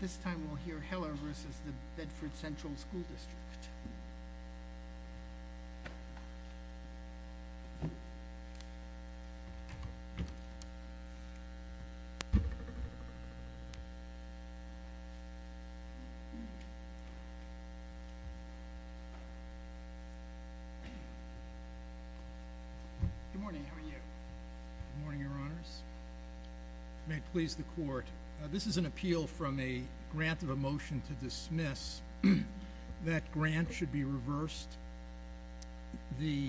This time we'll hear Heller v. Bedford Central School District. Good morning, how are you? Good morning, Your Honors. May it please the Court. This is an appeal from a grant of a motion to dismiss. That grant should be reversed. The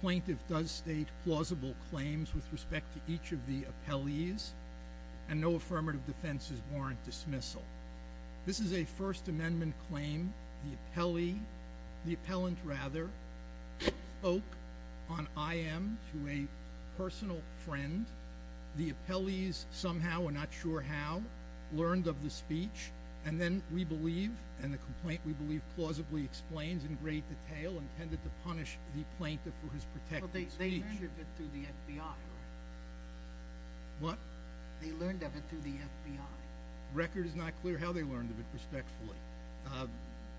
plaintiff does state plausible claims with respect to each of the appellees, and no affirmative defenses warrant dismissal. This is a First Amendment claim. The appellee, the appellant rather, spoke on I.M. to a personal friend. The appellees, somehow or not sure how, learned of the speech, and then we believe, and the complaint we believe plausibly explains in great detail, intended to punish the plaintiff for his protected speech. They learned of it through the FBI. What? They learned of it through the FBI. The record is not clear how they learned of it, respectfully.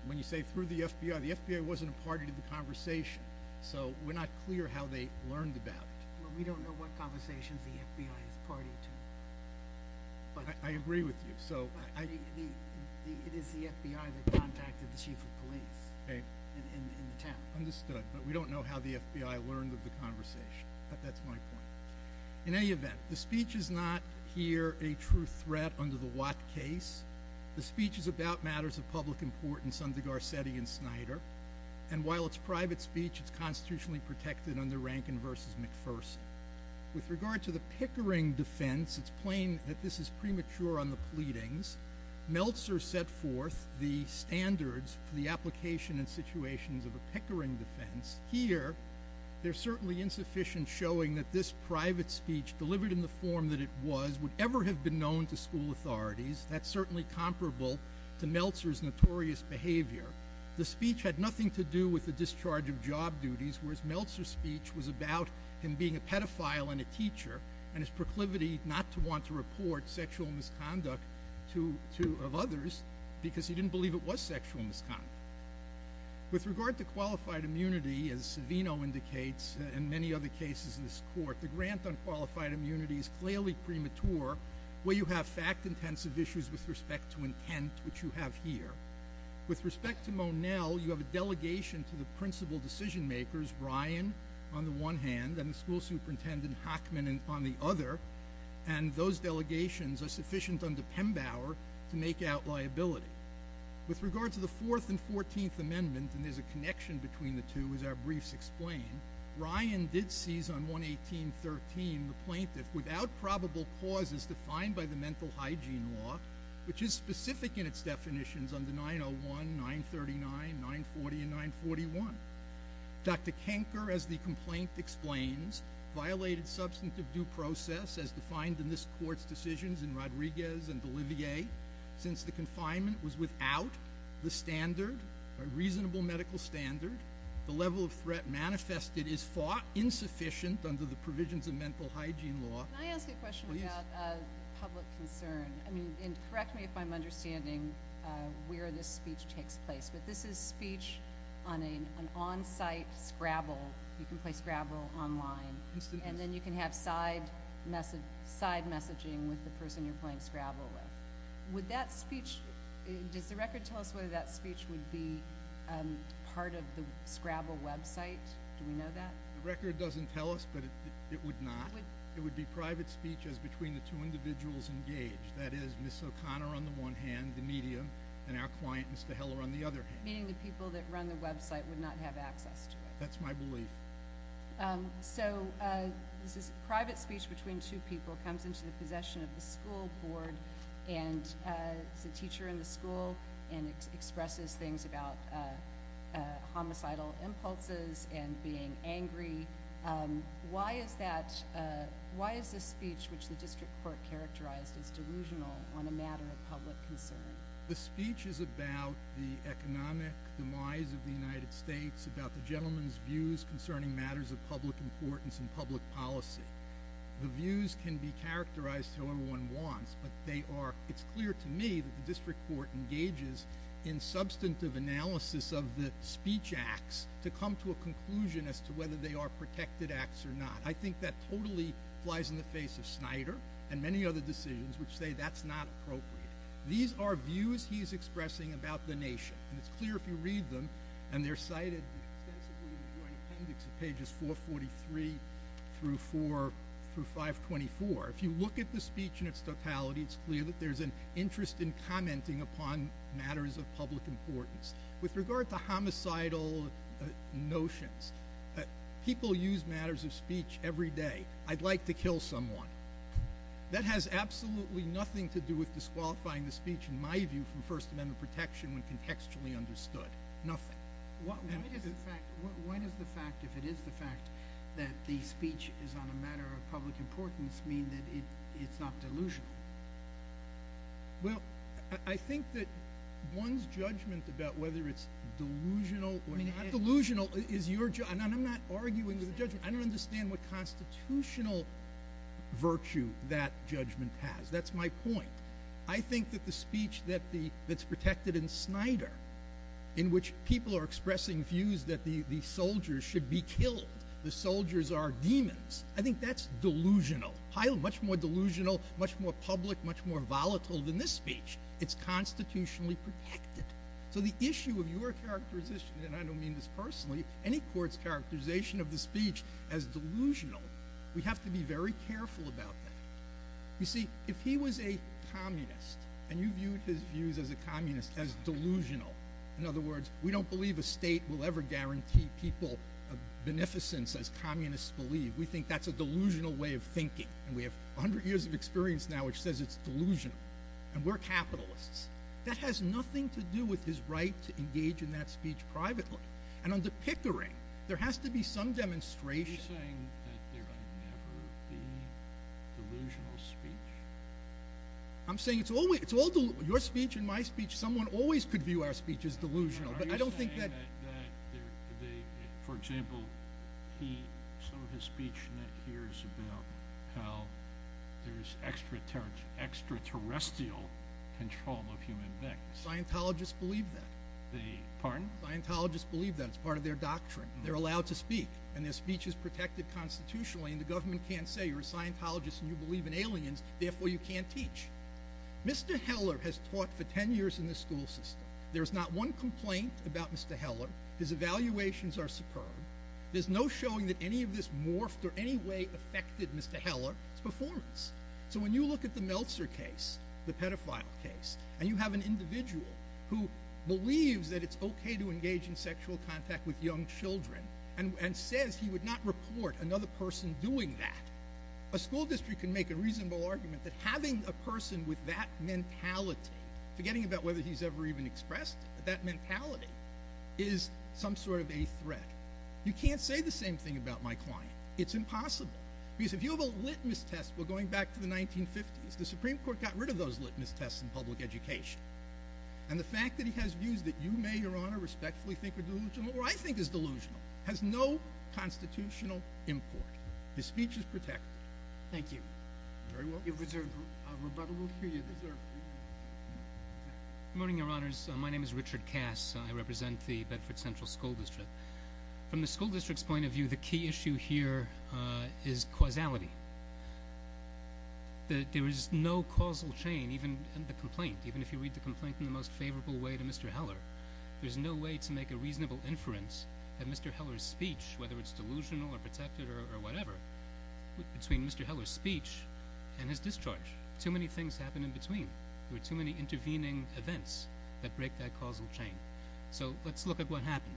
When you say through the FBI, the FBI wasn't a party to the conversation, so we're not clear how they learned about it. Well, we don't know what conversations the FBI is party to. I agree with you. It is the FBI that contacted the chief of police in the town. Understood, but we don't know how the FBI learned of the conversation. That's my point. In any event, the speech is not here a true threat under the Watt case. The speech is about matters of public importance under Garcetti and Snyder, and while it's private speech, it's constitutionally protected under Rankin v. McPherson. With regard to the Pickering defense, it's plain that this is premature on the pleadings. Meltzer set forth the standards for the application and situations of a Pickering defense. Here, they're certainly insufficient, showing that this private speech, delivered in the form that it was, would ever have been known to school authorities. That's certainly comparable to Meltzer's notorious behavior. The speech had nothing to do with the discharge of job duties, whereas Meltzer's speech was about him being a pedophile and a teacher and his proclivity not to want to report sexual misconduct of others because he didn't believe it was sexual misconduct. With regard to qualified immunity, as Savino indicates and many other cases in this court, the grant on qualified immunity is clearly premature where you have fact-intensive issues with respect to intent, which you have here. With respect to Monell, you have a delegation to the principal decision-makers, Ryan on the one hand and the school superintendent, Hackman, on the other, and those delegations are sufficient under Pembauer to make out liability. With regard to the Fourth and Fourteenth Amendments, and there's a connection between the two, as our briefs explain, Ryan did seize on 118.13 the plaintiff without probable causes defined by the mental hygiene law, which is specific in its definitions under 901, 939, 940, and 941. Dr. Kenker, as the complaint explains, violated substantive due process as defined in this court's decisions in Rodriguez and Olivier since the confinement was without the standard, a reasonable medical standard, the level of threat manifested is fought insufficient under the provisions of mental hygiene law. Can I ask a question about public concern? Correct me if I'm understanding where this speech takes place, but this is speech on an on-site Scrabble. You can play Scrabble online, and then you can have side messaging with the person you're playing Scrabble with. Would that speech, does the record tell us whether that speech would be part of the Scrabble website? Do we know that? The record doesn't tell us, but it would not. It would be private speech as between the two individuals engaged, that is, Ms. O'Connor on the one hand, the media, and our client, Mr. Heller, on the other hand. Meaning the people that run the website would not have access to it. That's my belief. So this is private speech between two people, comes into the possession of the school board, and is a teacher in the school, and expresses things about homicidal impulses and being angry. Why is this speech, which the district court characterized as delusional, on a matter of public concern? The speech is about the economic demise of the United States, about the gentleman's views concerning matters of public importance and public policy. The views can be characterized however one wants, but it's clear to me that the district court engages in substantive analysis of the speech acts to come to a conclusion as to whether they are protected acts or not. I think that totally flies in the face of Snyder and many other decisions which say that's not appropriate. These are views he's expressing about the nation, and it's clear if you read them, and they're cited extensively in the joint appendix of pages 443 through 524. If you look at the speech in its totality, it's clear that there's an interest in commenting upon matters of public importance. With regard to homicidal notions, people use matters of speech every day. I'd like to kill someone. That has absolutely nothing to do with disqualifying the speech, in my view, from First Amendment protection when contextually understood. Nothing. Why does the fact, if it is the fact, that the speech is on a matter of public importance mean that it's not delusional? Well, I think that one's judgment about whether it's delusional or not delusional is your judgment. I'm not arguing with the judgment. I don't understand what constitutional virtue that judgment has. That's my point. I think that the speech that's protected in Snyder, in which people are expressing views that the soldiers should be killed, the soldiers are demons, I think that's delusional. Much more delusional, much more public, much more volatile than this speech. It's constitutionally protected. So the issue of your characterization, and I don't mean this personally, any court's characterization of the speech as delusional, we have to be very careful about that. You see, if he was a communist, and you viewed his views as a communist, as delusional, in other words, we don't believe a state will ever guarantee people a beneficence as communists believe. We think that's a delusional way of thinking. And we have a hundred years of experience now, which says it's delusional. And we're capitalists. That has nothing to do with his right to engage in that speech privately. And under Pickering, there has to be some demonstration. Are you saying that there will never be delusional speech? I'm saying it's all delusional. Your speech and my speech, someone always could view our speech as delusional. Are you saying that, for example, some of his speech here is about how there's extraterrestrial control of human beings? Scientologists believe that. Pardon? Scientologists believe that. It's part of their doctrine. They're allowed to speak. And their speech is protected constitutionally. And the government can't say, you're a Scientologist and you believe in aliens, therefore you can't teach. Mr. Heller has taught for ten years in this school system. There's not one complaint about Mr. Heller. His evaluations are superb. There's no showing that any of this morphed or any way affected Mr. Heller's performance. So when you look at the Meltzer case, the pedophile case, and you have an individual who believes that it's okay to engage in sexual contact with young children and says he would not report another person doing that, a school district can make a reasonable argument that having a person with that mentality, forgetting about whether he's ever even expressed that mentality, is some sort of a threat. You can't say the same thing about my client. It's impossible. Because if you have a litmus test, we're going back to the 1950s, the Supreme Court got rid of those litmus tests in public education. And the fact that he has views that you may, Your Honor, respectfully think are delusional, or I think is delusional, has no constitutional import. His speech is protected. Thank you. You're very welcome. You deserve a rebuttal. You deserve it. Good morning, Your Honors. My name is Richard Cass. I represent the Bedford Central School District. From the school district's point of view, the key issue here is causality. There is no causal chain in the complaint, even if you read the complaint in the most favorable way to Mr. Heller. There's no way to make a reasonable inference that Mr. Heller's speech, whether it's delusional or protected or whatever, between Mr. Heller's speech and his discharge. Too many things happen in between. There were too many intervening events that break that causal chain. So let's look at what happened.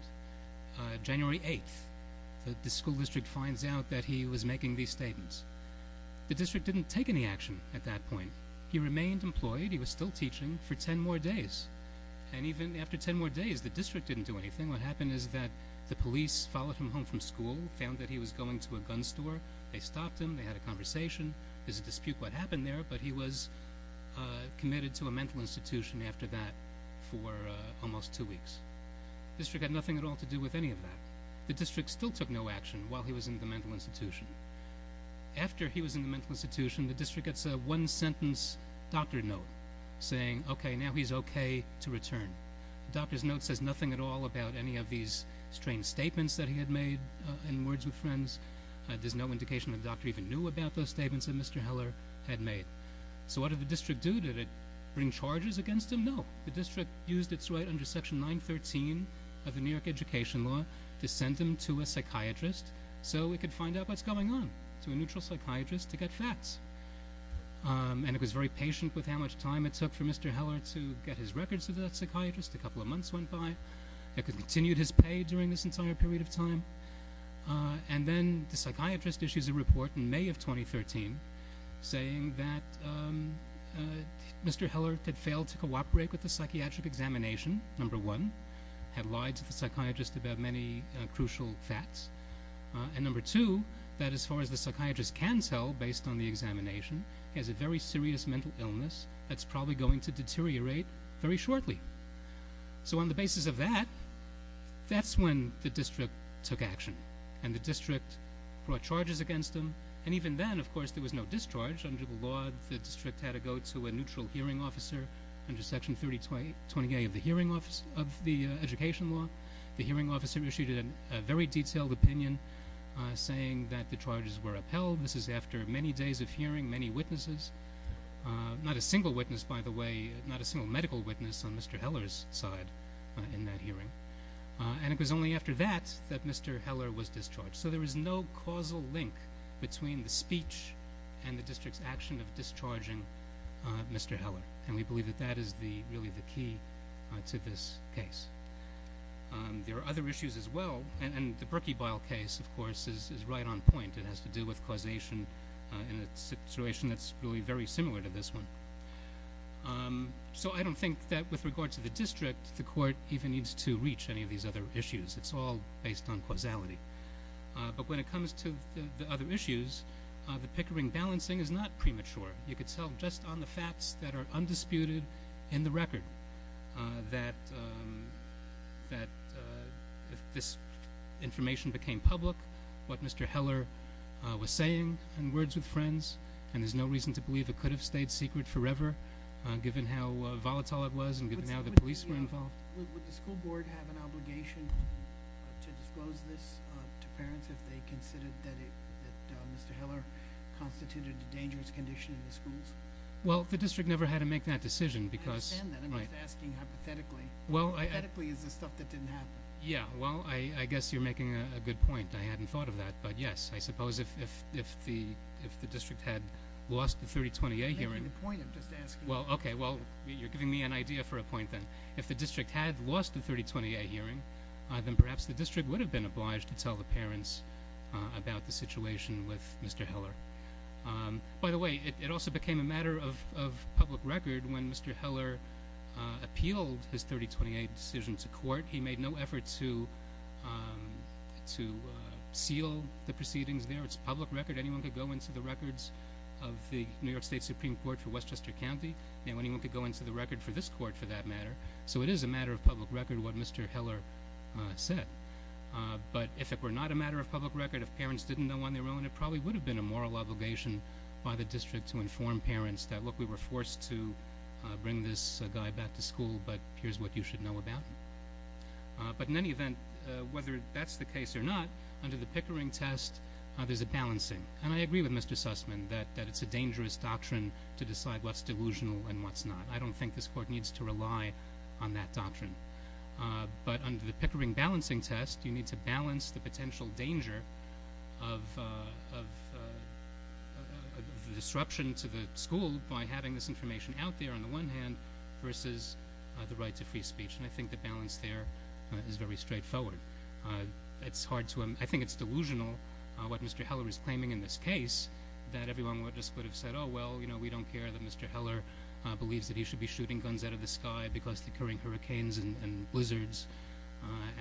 January 8th, the school district finds out that he was making these statements. The district didn't take any action at that point. He remained employed. He was still teaching for ten more days. And even after ten more days, the district didn't do anything. What happened is that the police followed him home from school, found that he was going to a gun store. They stopped him. They had a conversation. There's a dispute what happened there, but he was committed to a mental institution after that for almost two weeks. The district had nothing at all to do with any of that. The district still took no action while he was in the mental institution. After he was in the mental institution, the district gets a one-sentence doctor note saying, okay, now he's okay to return. The doctor's note says nothing at all about any of these strange statements that he had made in words with friends. There's no indication the doctor even knew about those statements that Mr. Heller had made. So what did the district do? Did it bring charges against him? No. The district used its right under Section 913 of the New York Education Law to send him to a psychiatrist so it could find out what's going on, to a neutral psychiatrist to get facts. And it was very patient with how much time it took for Mr. Heller to get his records to that psychiatrist. A couple of months went by. It continued his pay during this entire period of time. And then the psychiatrist issues a report in May of 2013 saying that Mr. Heller had failed to cooperate with the psychiatric examination, number one, had lied to the psychiatrist about many crucial facts, and number two, that as far as the psychiatrist can tell based on the examination, he has a very serious mental illness that's probably going to deteriorate very shortly. So on the basis of that, that's when the district took action. And the district brought charges against him. And even then, of course, there was no discharge. Under the law, the district had to go to a neutral hearing officer under Section 3028 of the Education Law. The hearing officer issued a very detailed opinion saying that the charges were upheld. This is after many days of hearing, many witnesses. Not a single witness, by the way, not a single medical witness on Mr. Heller's side in that hearing. And it was only after that that Mr. Heller was discharged. So there was no causal link between the speech and the district's action of discharging Mr. Heller. And we believe that that is really the key to this case. There are other issues as well. And the Brookie Bile case, of course, is right on point. It has to do with causation in a situation that's really very similar to this one. So I don't think that with regard to the district, the court even needs to reach any of these other issues. It's all based on causality. But when it comes to the other issues, the Pickering balancing is not premature. You could tell just on the facts that are undisputed in the record that this information became public, what Mr. Heller was saying in words with friends, and there's no reason to believe it could have stayed secret forever given how volatile it was and given how the police were involved. Would the school board have an obligation to disclose this to parents if they considered that Mr. Heller constituted a dangerous condition in the schools? Well, the district never had to make that decision because- I understand that. I'm just asking hypothetically. Hypothetically is the stuff that didn't happen. Yeah. Well, I guess you're making a good point. I hadn't thought of that. But, yes, I suppose if the district had lost the 3028 hearing- You're making the point. I'm just asking. Well, okay. Well, you're giving me an idea for a point then. If the district had lost the 3028 hearing, then perhaps the district would have been obliged to tell the parents about the situation with Mr. Heller. By the way, it also became a matter of public record when Mr. Heller appealed his 3028 decision to court. He made no effort to seal the proceedings there. It's a public record. Anyone could go into the records of the New York State Supreme Court for Westchester County. Anyone could go into the record for this court for that matter. So it is a matter of public record what Mr. Heller said. But if it were not a matter of public record, if parents didn't know on their own, it probably would have been a moral obligation by the district to inform parents that, look, we were forced to bring this guy back to school, but here's what you should know about him. But in any event, whether that's the case or not, under the Pickering test, there's a balancing. And I agree with Mr. Sussman that it's a dangerous doctrine to decide what's delusional and what's not. I don't think this court needs to rely on that doctrine. But under the Pickering balancing test, you need to balance the potential danger of disruption to the school by having this information out there on the one hand versus the right to free speech. And I think the balance there is very straightforward. I think it's delusional what Mr. Heller is claiming in this case, that everyone just would have said, oh, well, we don't care that Mr. Heller believes that he should be shooting guns out of the sky because of the occurring hurricanes and blizzards,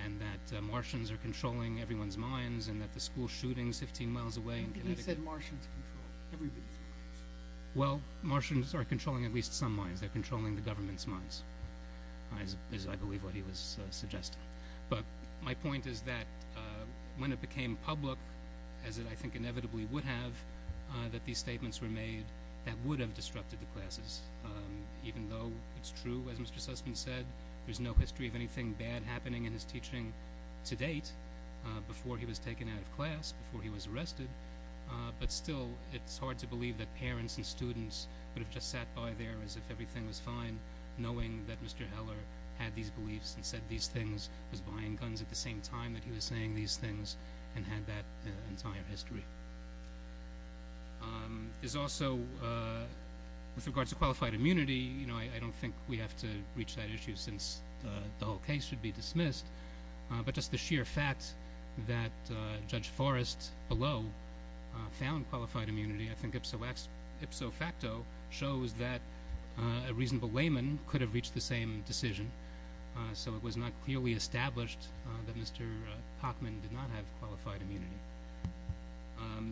and that Martians are controlling everyone's minds, and that the school shooting is 15 miles away in Connecticut. I think he said Martians control everybody's minds. Well, Martians are controlling at least some minds. They're controlling the government's minds is, I believe, what he was suggesting. But my point is that when it became public, as it I think inevitably would have, that these statements were made that would have disrupted the classes. Even though it's true, as Mr. Sussman said, there's no history of anything bad happening in his teaching to date, before he was taken out of class, before he was arrested. But still, it's hard to believe that parents and students would have just sat by there as if everything was fine, knowing that Mr. Heller had these beliefs and said these things, was buying guns at the same time that he was saying these things, and had that entire history. There's also, with regards to qualified immunity, I don't think we have to reach that issue since the whole case should be dismissed. But just the sheer fact that Judge Forrest below found qualified immunity, I think ipso facto shows that a reasonable layman could have reached the same decision. So it was not clearly established that Mr. Hockman did not have qualified immunity.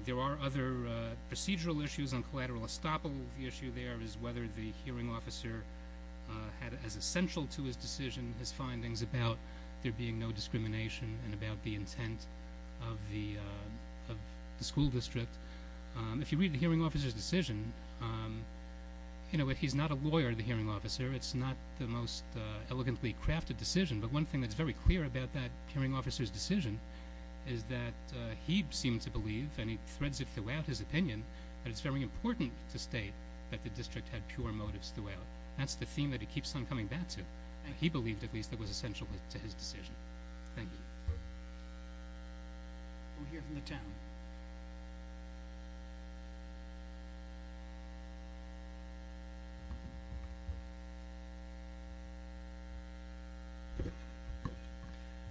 There are other procedural issues on collateral estoppel. The issue there is whether the hearing officer had, as essential to his decision, his findings about there being no discrimination and about the intent of the school district. If you read the hearing officer's decision, he's not a lawyer, the hearing officer. It's not the most elegantly crafted decision. But one thing that's very clear about that hearing officer's decision is that he seemed to believe, and he threads it throughout his opinion, that it's very important to state that the district had pure motives throughout. That's the theme that he keeps on coming back to. He believed, at least, that it was essential to his decision. Thank you. We'll hear from the town.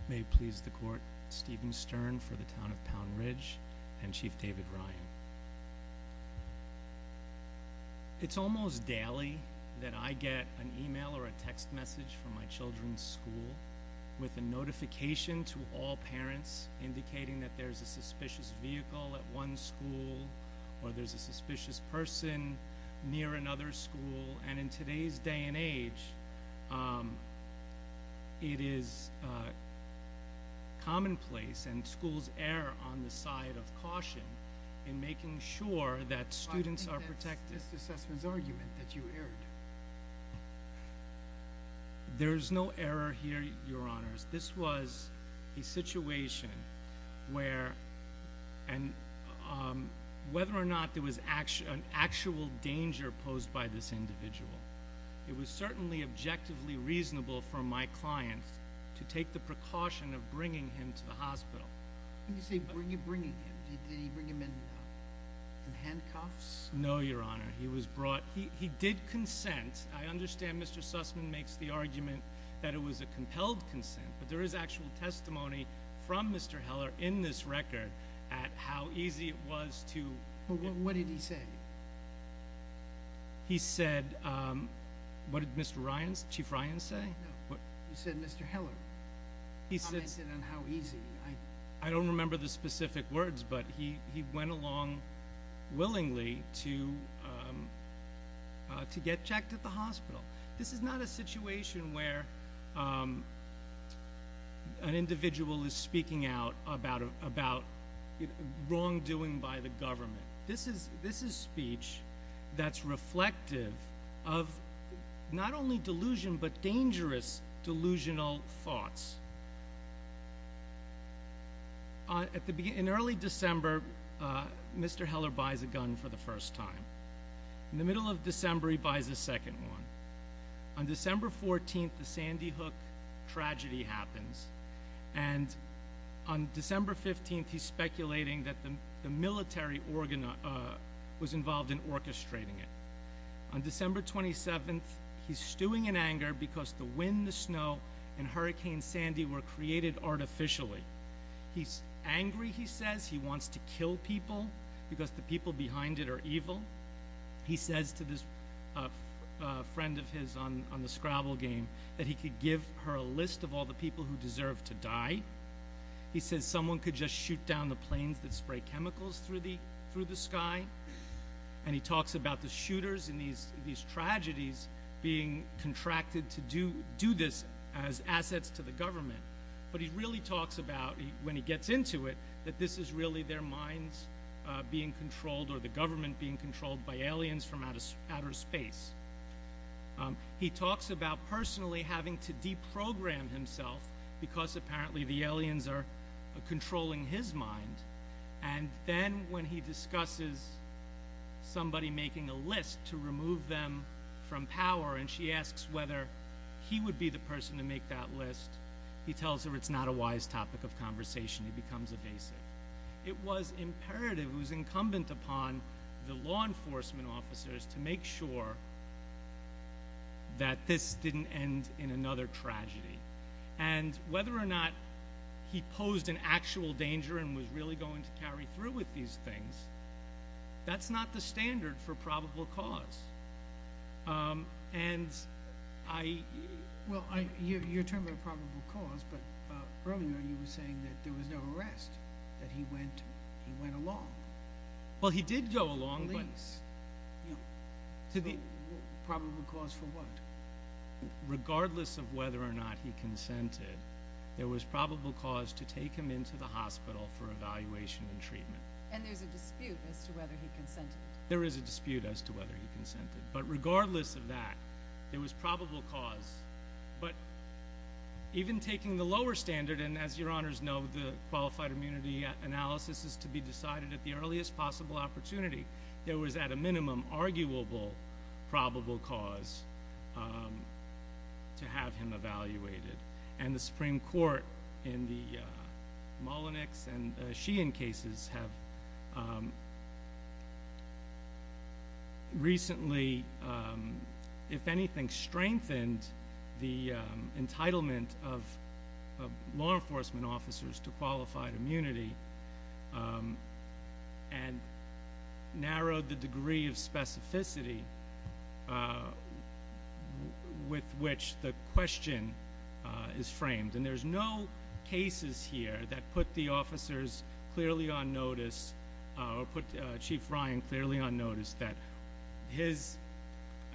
May it please the court, Stephen Stern for the town of Pound Ridge and Chief David Ryan. It's almost daily that I get an e-mail or a text message from my children's school with a notification to all parents indicating that there's a suspicious vehicle at one school or there's a suspicious person near another school. And in today's day and age, it is commonplace, and schools err on the side of caution in making sure that students are protected. I think that's Mr. Sessman's argument, that you erred. There's no error here, Your Honors. This was a situation where, whether or not there was an actual danger posed by this individual, it was certainly objectively reasonable for my client to take the precaution of bringing him to the hospital. When you say bringing him, did he bring him in handcuffs? No, Your Honor. He did consent. I understand Mr. Sessman makes the argument that it was a compelled consent, but there is actual testimony from Mr. Heller in this record at how easy it was to- What did he say? He said, what did Chief Ryan say? No, you said Mr. Heller commented on how easy. I don't remember the specific words, but he went along willingly to get checked at the hospital. This is not a situation where an individual is speaking out about wrongdoing by the government. This is speech that's reflective of not only delusion, but dangerous delusional thoughts. In early December, Mr. Heller buys a gun for the first time. In the middle of December, he buys a second one. On December 14th, the Sandy Hook tragedy happens. On December 15th, he's speculating that the military organ was involved in orchestrating it. On December 27th, he's stewing in anger because the wind, the snow, and Hurricane Sandy were created artificially. He's angry, he says. He wants to kill people because the people behind it are evil. He says to this friend of his on the Scrabble game that he could give her a list of all the people who deserve to die. He says someone could just shoot down the planes that spray chemicals through the sky. He talks about the shooters in these tragedies being contracted to do this as assets to the government. But he really talks about when he gets into it that this is really their minds being controlled or the government being controlled by aliens from outer space. He talks about personally having to deprogram himself because apparently the aliens are controlling his mind. And then when he discusses somebody making a list to remove them from power and she asks whether he would be the person to make that list, he tells her it's not a wise topic of conversation. He becomes evasive. It was imperative, it was incumbent upon the law enforcement officers to make sure that this didn't end in another tragedy. And whether or not he posed an actual danger and was really going to carry through with these things, that's not the standard for probable cause. And I... Well, you're talking about probable cause, but earlier you were saying that there was no arrest, that he went along. Well, he did go along, but... Police. To the... Probable cause for what? Regardless of whether or not he consented, there was probable cause to take him into the hospital for evaluation and treatment. And there's a dispute as to whether he consented. There is a dispute as to whether he consented. But regardless of that, there was probable cause. But even taking the lower standard, and as your honors know, the qualified immunity analysis is to be decided at the earliest possible opportunity, there was at a minimum arguable probable cause to have him evaluated. And the Supreme Court in the Mullenix and Sheehan cases have recently, if anything, strengthened the entitlement of law enforcement officers to qualified immunity and narrowed the degree of specificity with which the question is framed. And there's no cases here that put the officers clearly on notice, or put Chief Ryan clearly on notice, that his,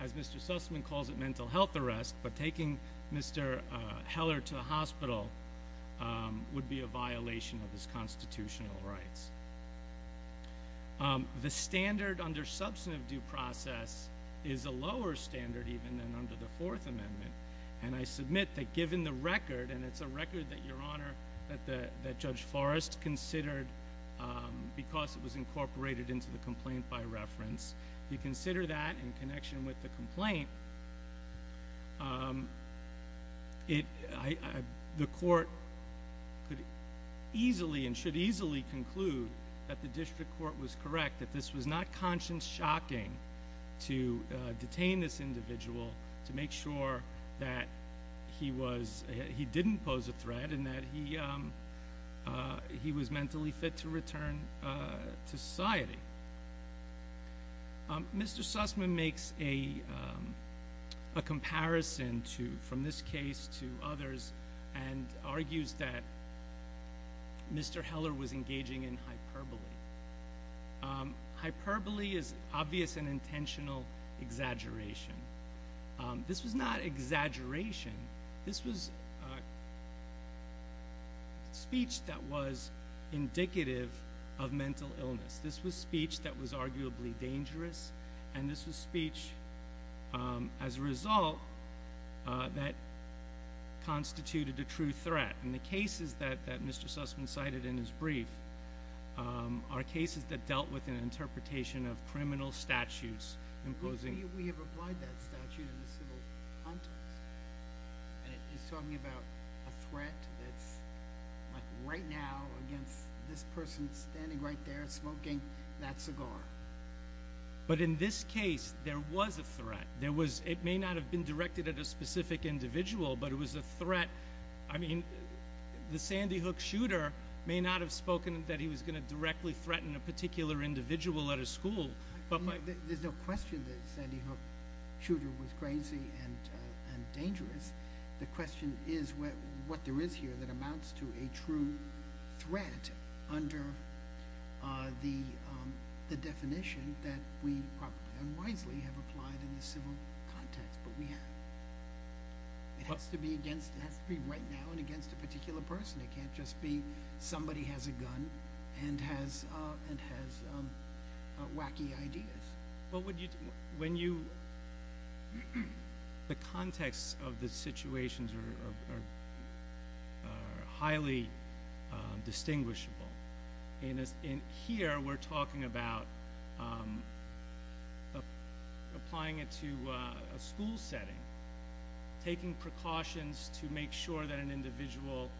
as Mr. Sussman calls it, mental health arrest, but taking Mr. Heller to the hospital would be a violation of his constitutional rights. The standard under substantive due process is a lower standard even than under the Fourth Amendment, and I submit that given the record, and it's a record that your honor, that Judge Forrest considered, because it was incorporated into the complaint by reference, if you consider that in connection with the complaint, the court could easily and should easily conclude that the district court was correct, that this was not conscience shocking to detain this individual to make sure that he didn't pose a threat and that he was mentally fit to return to society. Mr. Sussman makes a comparison from this case to others and argues that Mr. Heller was engaging in hyperbole. Hyperbole is obvious and intentional exaggeration. This was not exaggeration. This was speech that was indicative of mental illness. This was speech that was arguably dangerous, and this was speech, as a result, that constituted a true threat. And the cases that Mr. Sussman cited in his brief are cases that dealt with an interpretation of criminal statutes imposing We have applied that statute in a civil context. And he's talking about a threat that's like right now against this person standing right there smoking that cigar. But in this case, there was a threat. It may not have been directed at a specific individual, but it was a threat. I mean, the Sandy Hook shooter may not have spoken that he was going to directly threaten a particular individual at a school. There's no question that the Sandy Hook shooter was crazy and dangerous. The question is what there is here that amounts to a true threat under the definition that we unwisely have applied in the civil context. But we have. It has to be against – it has to be right now and against a particular person. It can't just be somebody has a gun and has wacky ideas. When you – the context of the situations are highly distinguishable. In here, we're talking about applying it to a school setting, taking precautions to make sure that an individual –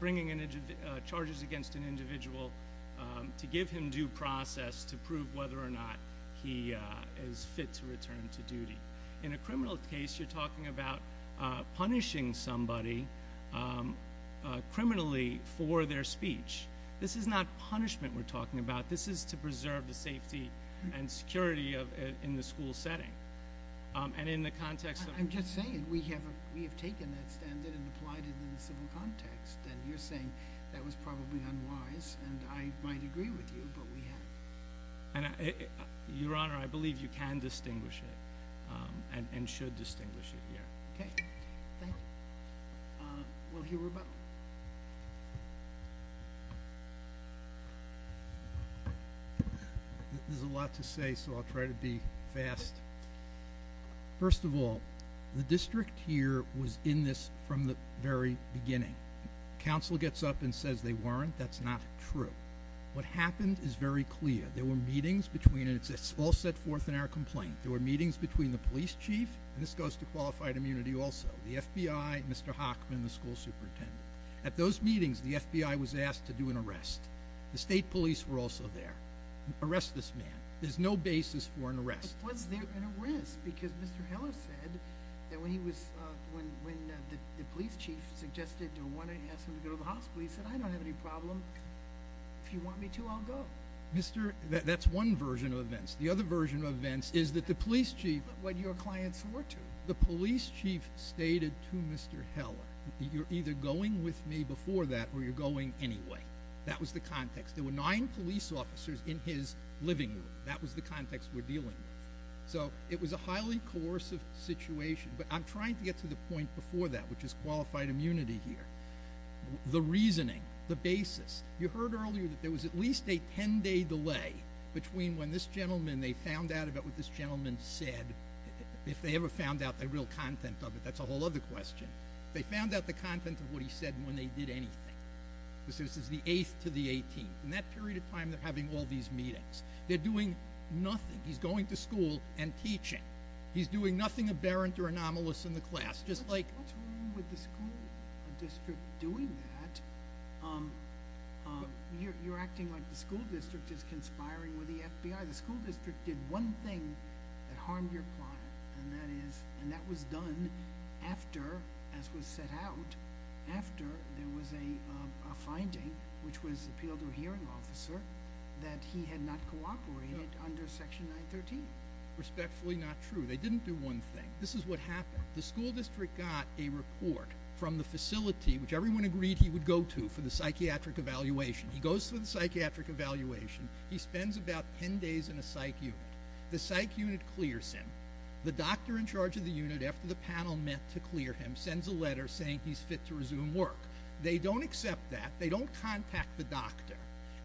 bringing charges against an individual to give him due process to prove whether or not he is fit to return to duty. In a criminal case, you're talking about punishing somebody criminally for their speech. This is not punishment we're talking about. This is to preserve the safety and security in the school setting. And in the context of – I'm just saying we have taken that standard and applied it in the civil context. And you're saying that was probably unwise, and I might agree with you, but we have. Your Honor, I believe you can distinguish it and should distinguish it here. Okay. Thank you. We'll hear from Rebecca. There's a lot to say, so I'll try to be fast. First of all, the district here was in this from the very beginning. Counsel gets up and says they weren't. That's not true. What happened is very clear. There were meetings between – and it's all set forth in our complaint. There were meetings between the police chief – and this goes to qualified immunity also – the FBI, Mr. Hochman, the school superintendent. At those meetings, the FBI was asked to do an arrest. The state police were also there. Arrest this man. There's no basis for an arrest. But was there an arrest? Because Mr. Heller said that when he was – when the police chief suggested or asked him to go to the hospital, the police said, I don't have any problem. If you want me to, I'll go. Mr. – that's one version of events. The other version of events is that the police chief – What your client swore to. The police chief stated to Mr. Heller, you're either going with me before that or you're going anyway. That was the context. There were nine police officers in his living room. That was the context we're dealing with. So it was a highly coercive situation. But I'm trying to get to the point before that, which is qualified immunity here. The reasoning, the basis. You heard earlier that there was at least a 10-day delay between when this gentleman – they found out about what this gentleman said. If they ever found out the real content of it, that's a whole other question. They found out the content of what he said and when they did anything. This is the 8th to the 18th. In that period of time, they're having all these meetings. They're doing nothing. He's going to school and teaching. He's doing nothing aberrant or anomalous in the class. What's wrong with the school district doing that? You're acting like the school district is conspiring with the FBI. The school district did one thing that harmed your client, and that was done after, as was set out, after there was a finding, which was appealed to a hearing officer, that he had not cooperated under Section 913. Respectfully not true. They didn't do one thing. This is what happened. The school district got a report from the facility, which everyone agreed he would go to for the psychiatric evaluation. He goes to the psychiatric evaluation. He spends about 10 days in a psych unit. The psych unit clears him. The doctor in charge of the unit, after the panel met to clear him, sends a letter saying he's fit to resume work. They don't accept that. They don't contact the doctor.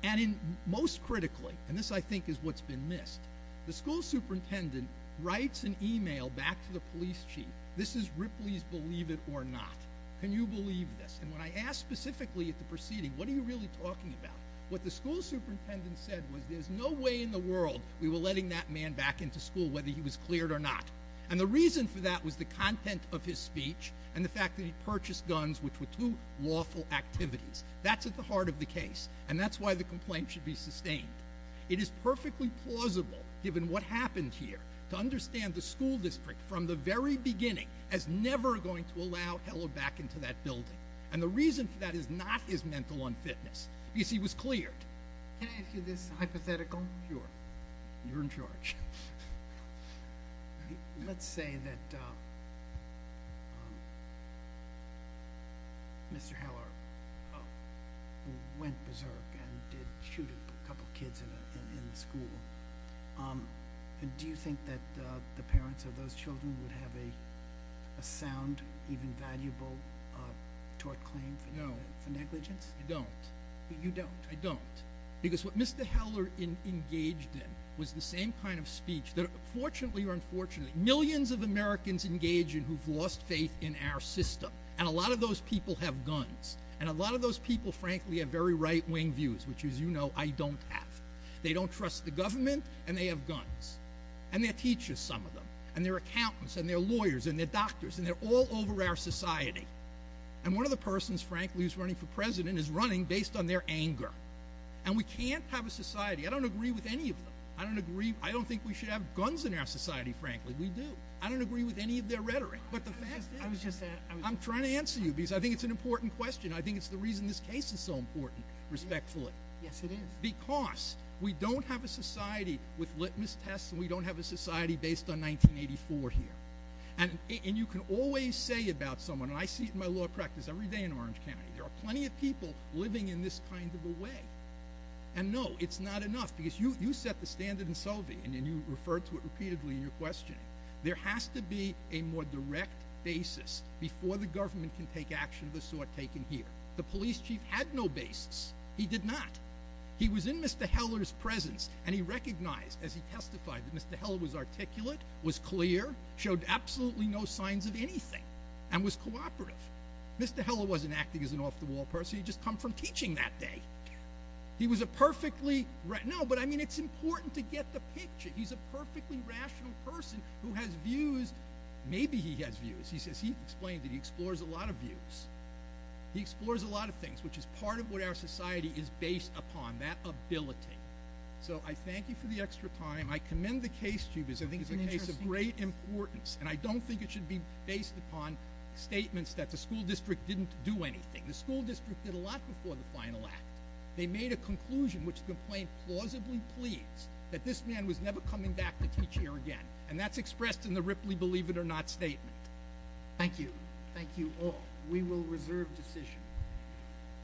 And most critically – and this, I think, is what's been missed – the school superintendent writes an email back to the police chief. This is Ripley's believe it or not. Can you believe this? And when I asked specifically at the proceeding, what are you really talking about, what the school superintendent said was, there's no way in the world we were letting that man back into school whether he was cleared or not. And the reason for that was the content of his speech and the fact that he purchased guns, which were two lawful activities. That's at the heart of the case, and that's why the complaint should be sustained. It is perfectly plausible, given what happened here, to understand the school district from the very beginning as never going to allow Heller back into that building. And the reason for that is not his mental unfitness because he was cleared. Can I ask you this hypothetical? Sure. You're in charge. Let's say that Mr. Heller went berserk and did shoot a couple kids in the school. Do you think that the parents of those children would have a sound, even valuable, tort claim for negligence? No, I don't. You don't? I don't. Because what Mr. Heller engaged in was the same kind of speech that, fortunately or unfortunately, millions of Americans engage in who've lost faith in our system. And a lot of those people have guns. And a lot of those people, frankly, have very right-wing views, which, as you know, I don't have. They don't trust the government, and they have guns. And their teachers, some of them, and their accountants and their lawyers and their doctors, and they're all over our society. And one of the persons, frankly, who's running for president is running based on their anger. And we can't have a society. I don't agree with any of them. I don't agree. I don't think we should have guns in our society, frankly. We do. I don't agree with any of their rhetoric. But the fact is, I'm trying to answer you because I think it's an important question. I think it's the reason this case is so important, respectfully. Yes, it is. Because we don't have a society with litmus tests, and we don't have a society based on 1984 here. And you can always say about someone, and I see it in my law practice every day in Orange County, there are plenty of people living in this kind of a way. And no, it's not enough. Because you set the standard in Selvey, and you refer to it repeatedly in your questioning. There has to be a more direct basis before the government can take action of the sort taken here. The police chief had no basis. He did not. He was in Mr. Heller's presence, and he recognized, as he testified, that Mr. Heller was articulate, was clear, showed absolutely no signs of anything, and was cooperative. Mr. Heller wasn't acting as an off-the-wall person. He'd just come from teaching that day. He was a perfectly rational person. No, but, I mean, it's important to get the picture. He's a perfectly rational person who has views. Maybe he has views. He says he explains it. He explores a lot of views. He explores a lot of things, which is part of what our society is based upon, that ability. So I thank you for the extra time. I commend the case to you because I think it's a case of great importance, and I don't think it should be based upon statements that the school district didn't do anything. The school district did a lot before the final act. They made a conclusion, which the complaint plausibly pleads, that this man was never coming back to teach here again, and that's expressed in the Ripley Believe It or Not statement. Thank you. Thank you all. We will reserve decision.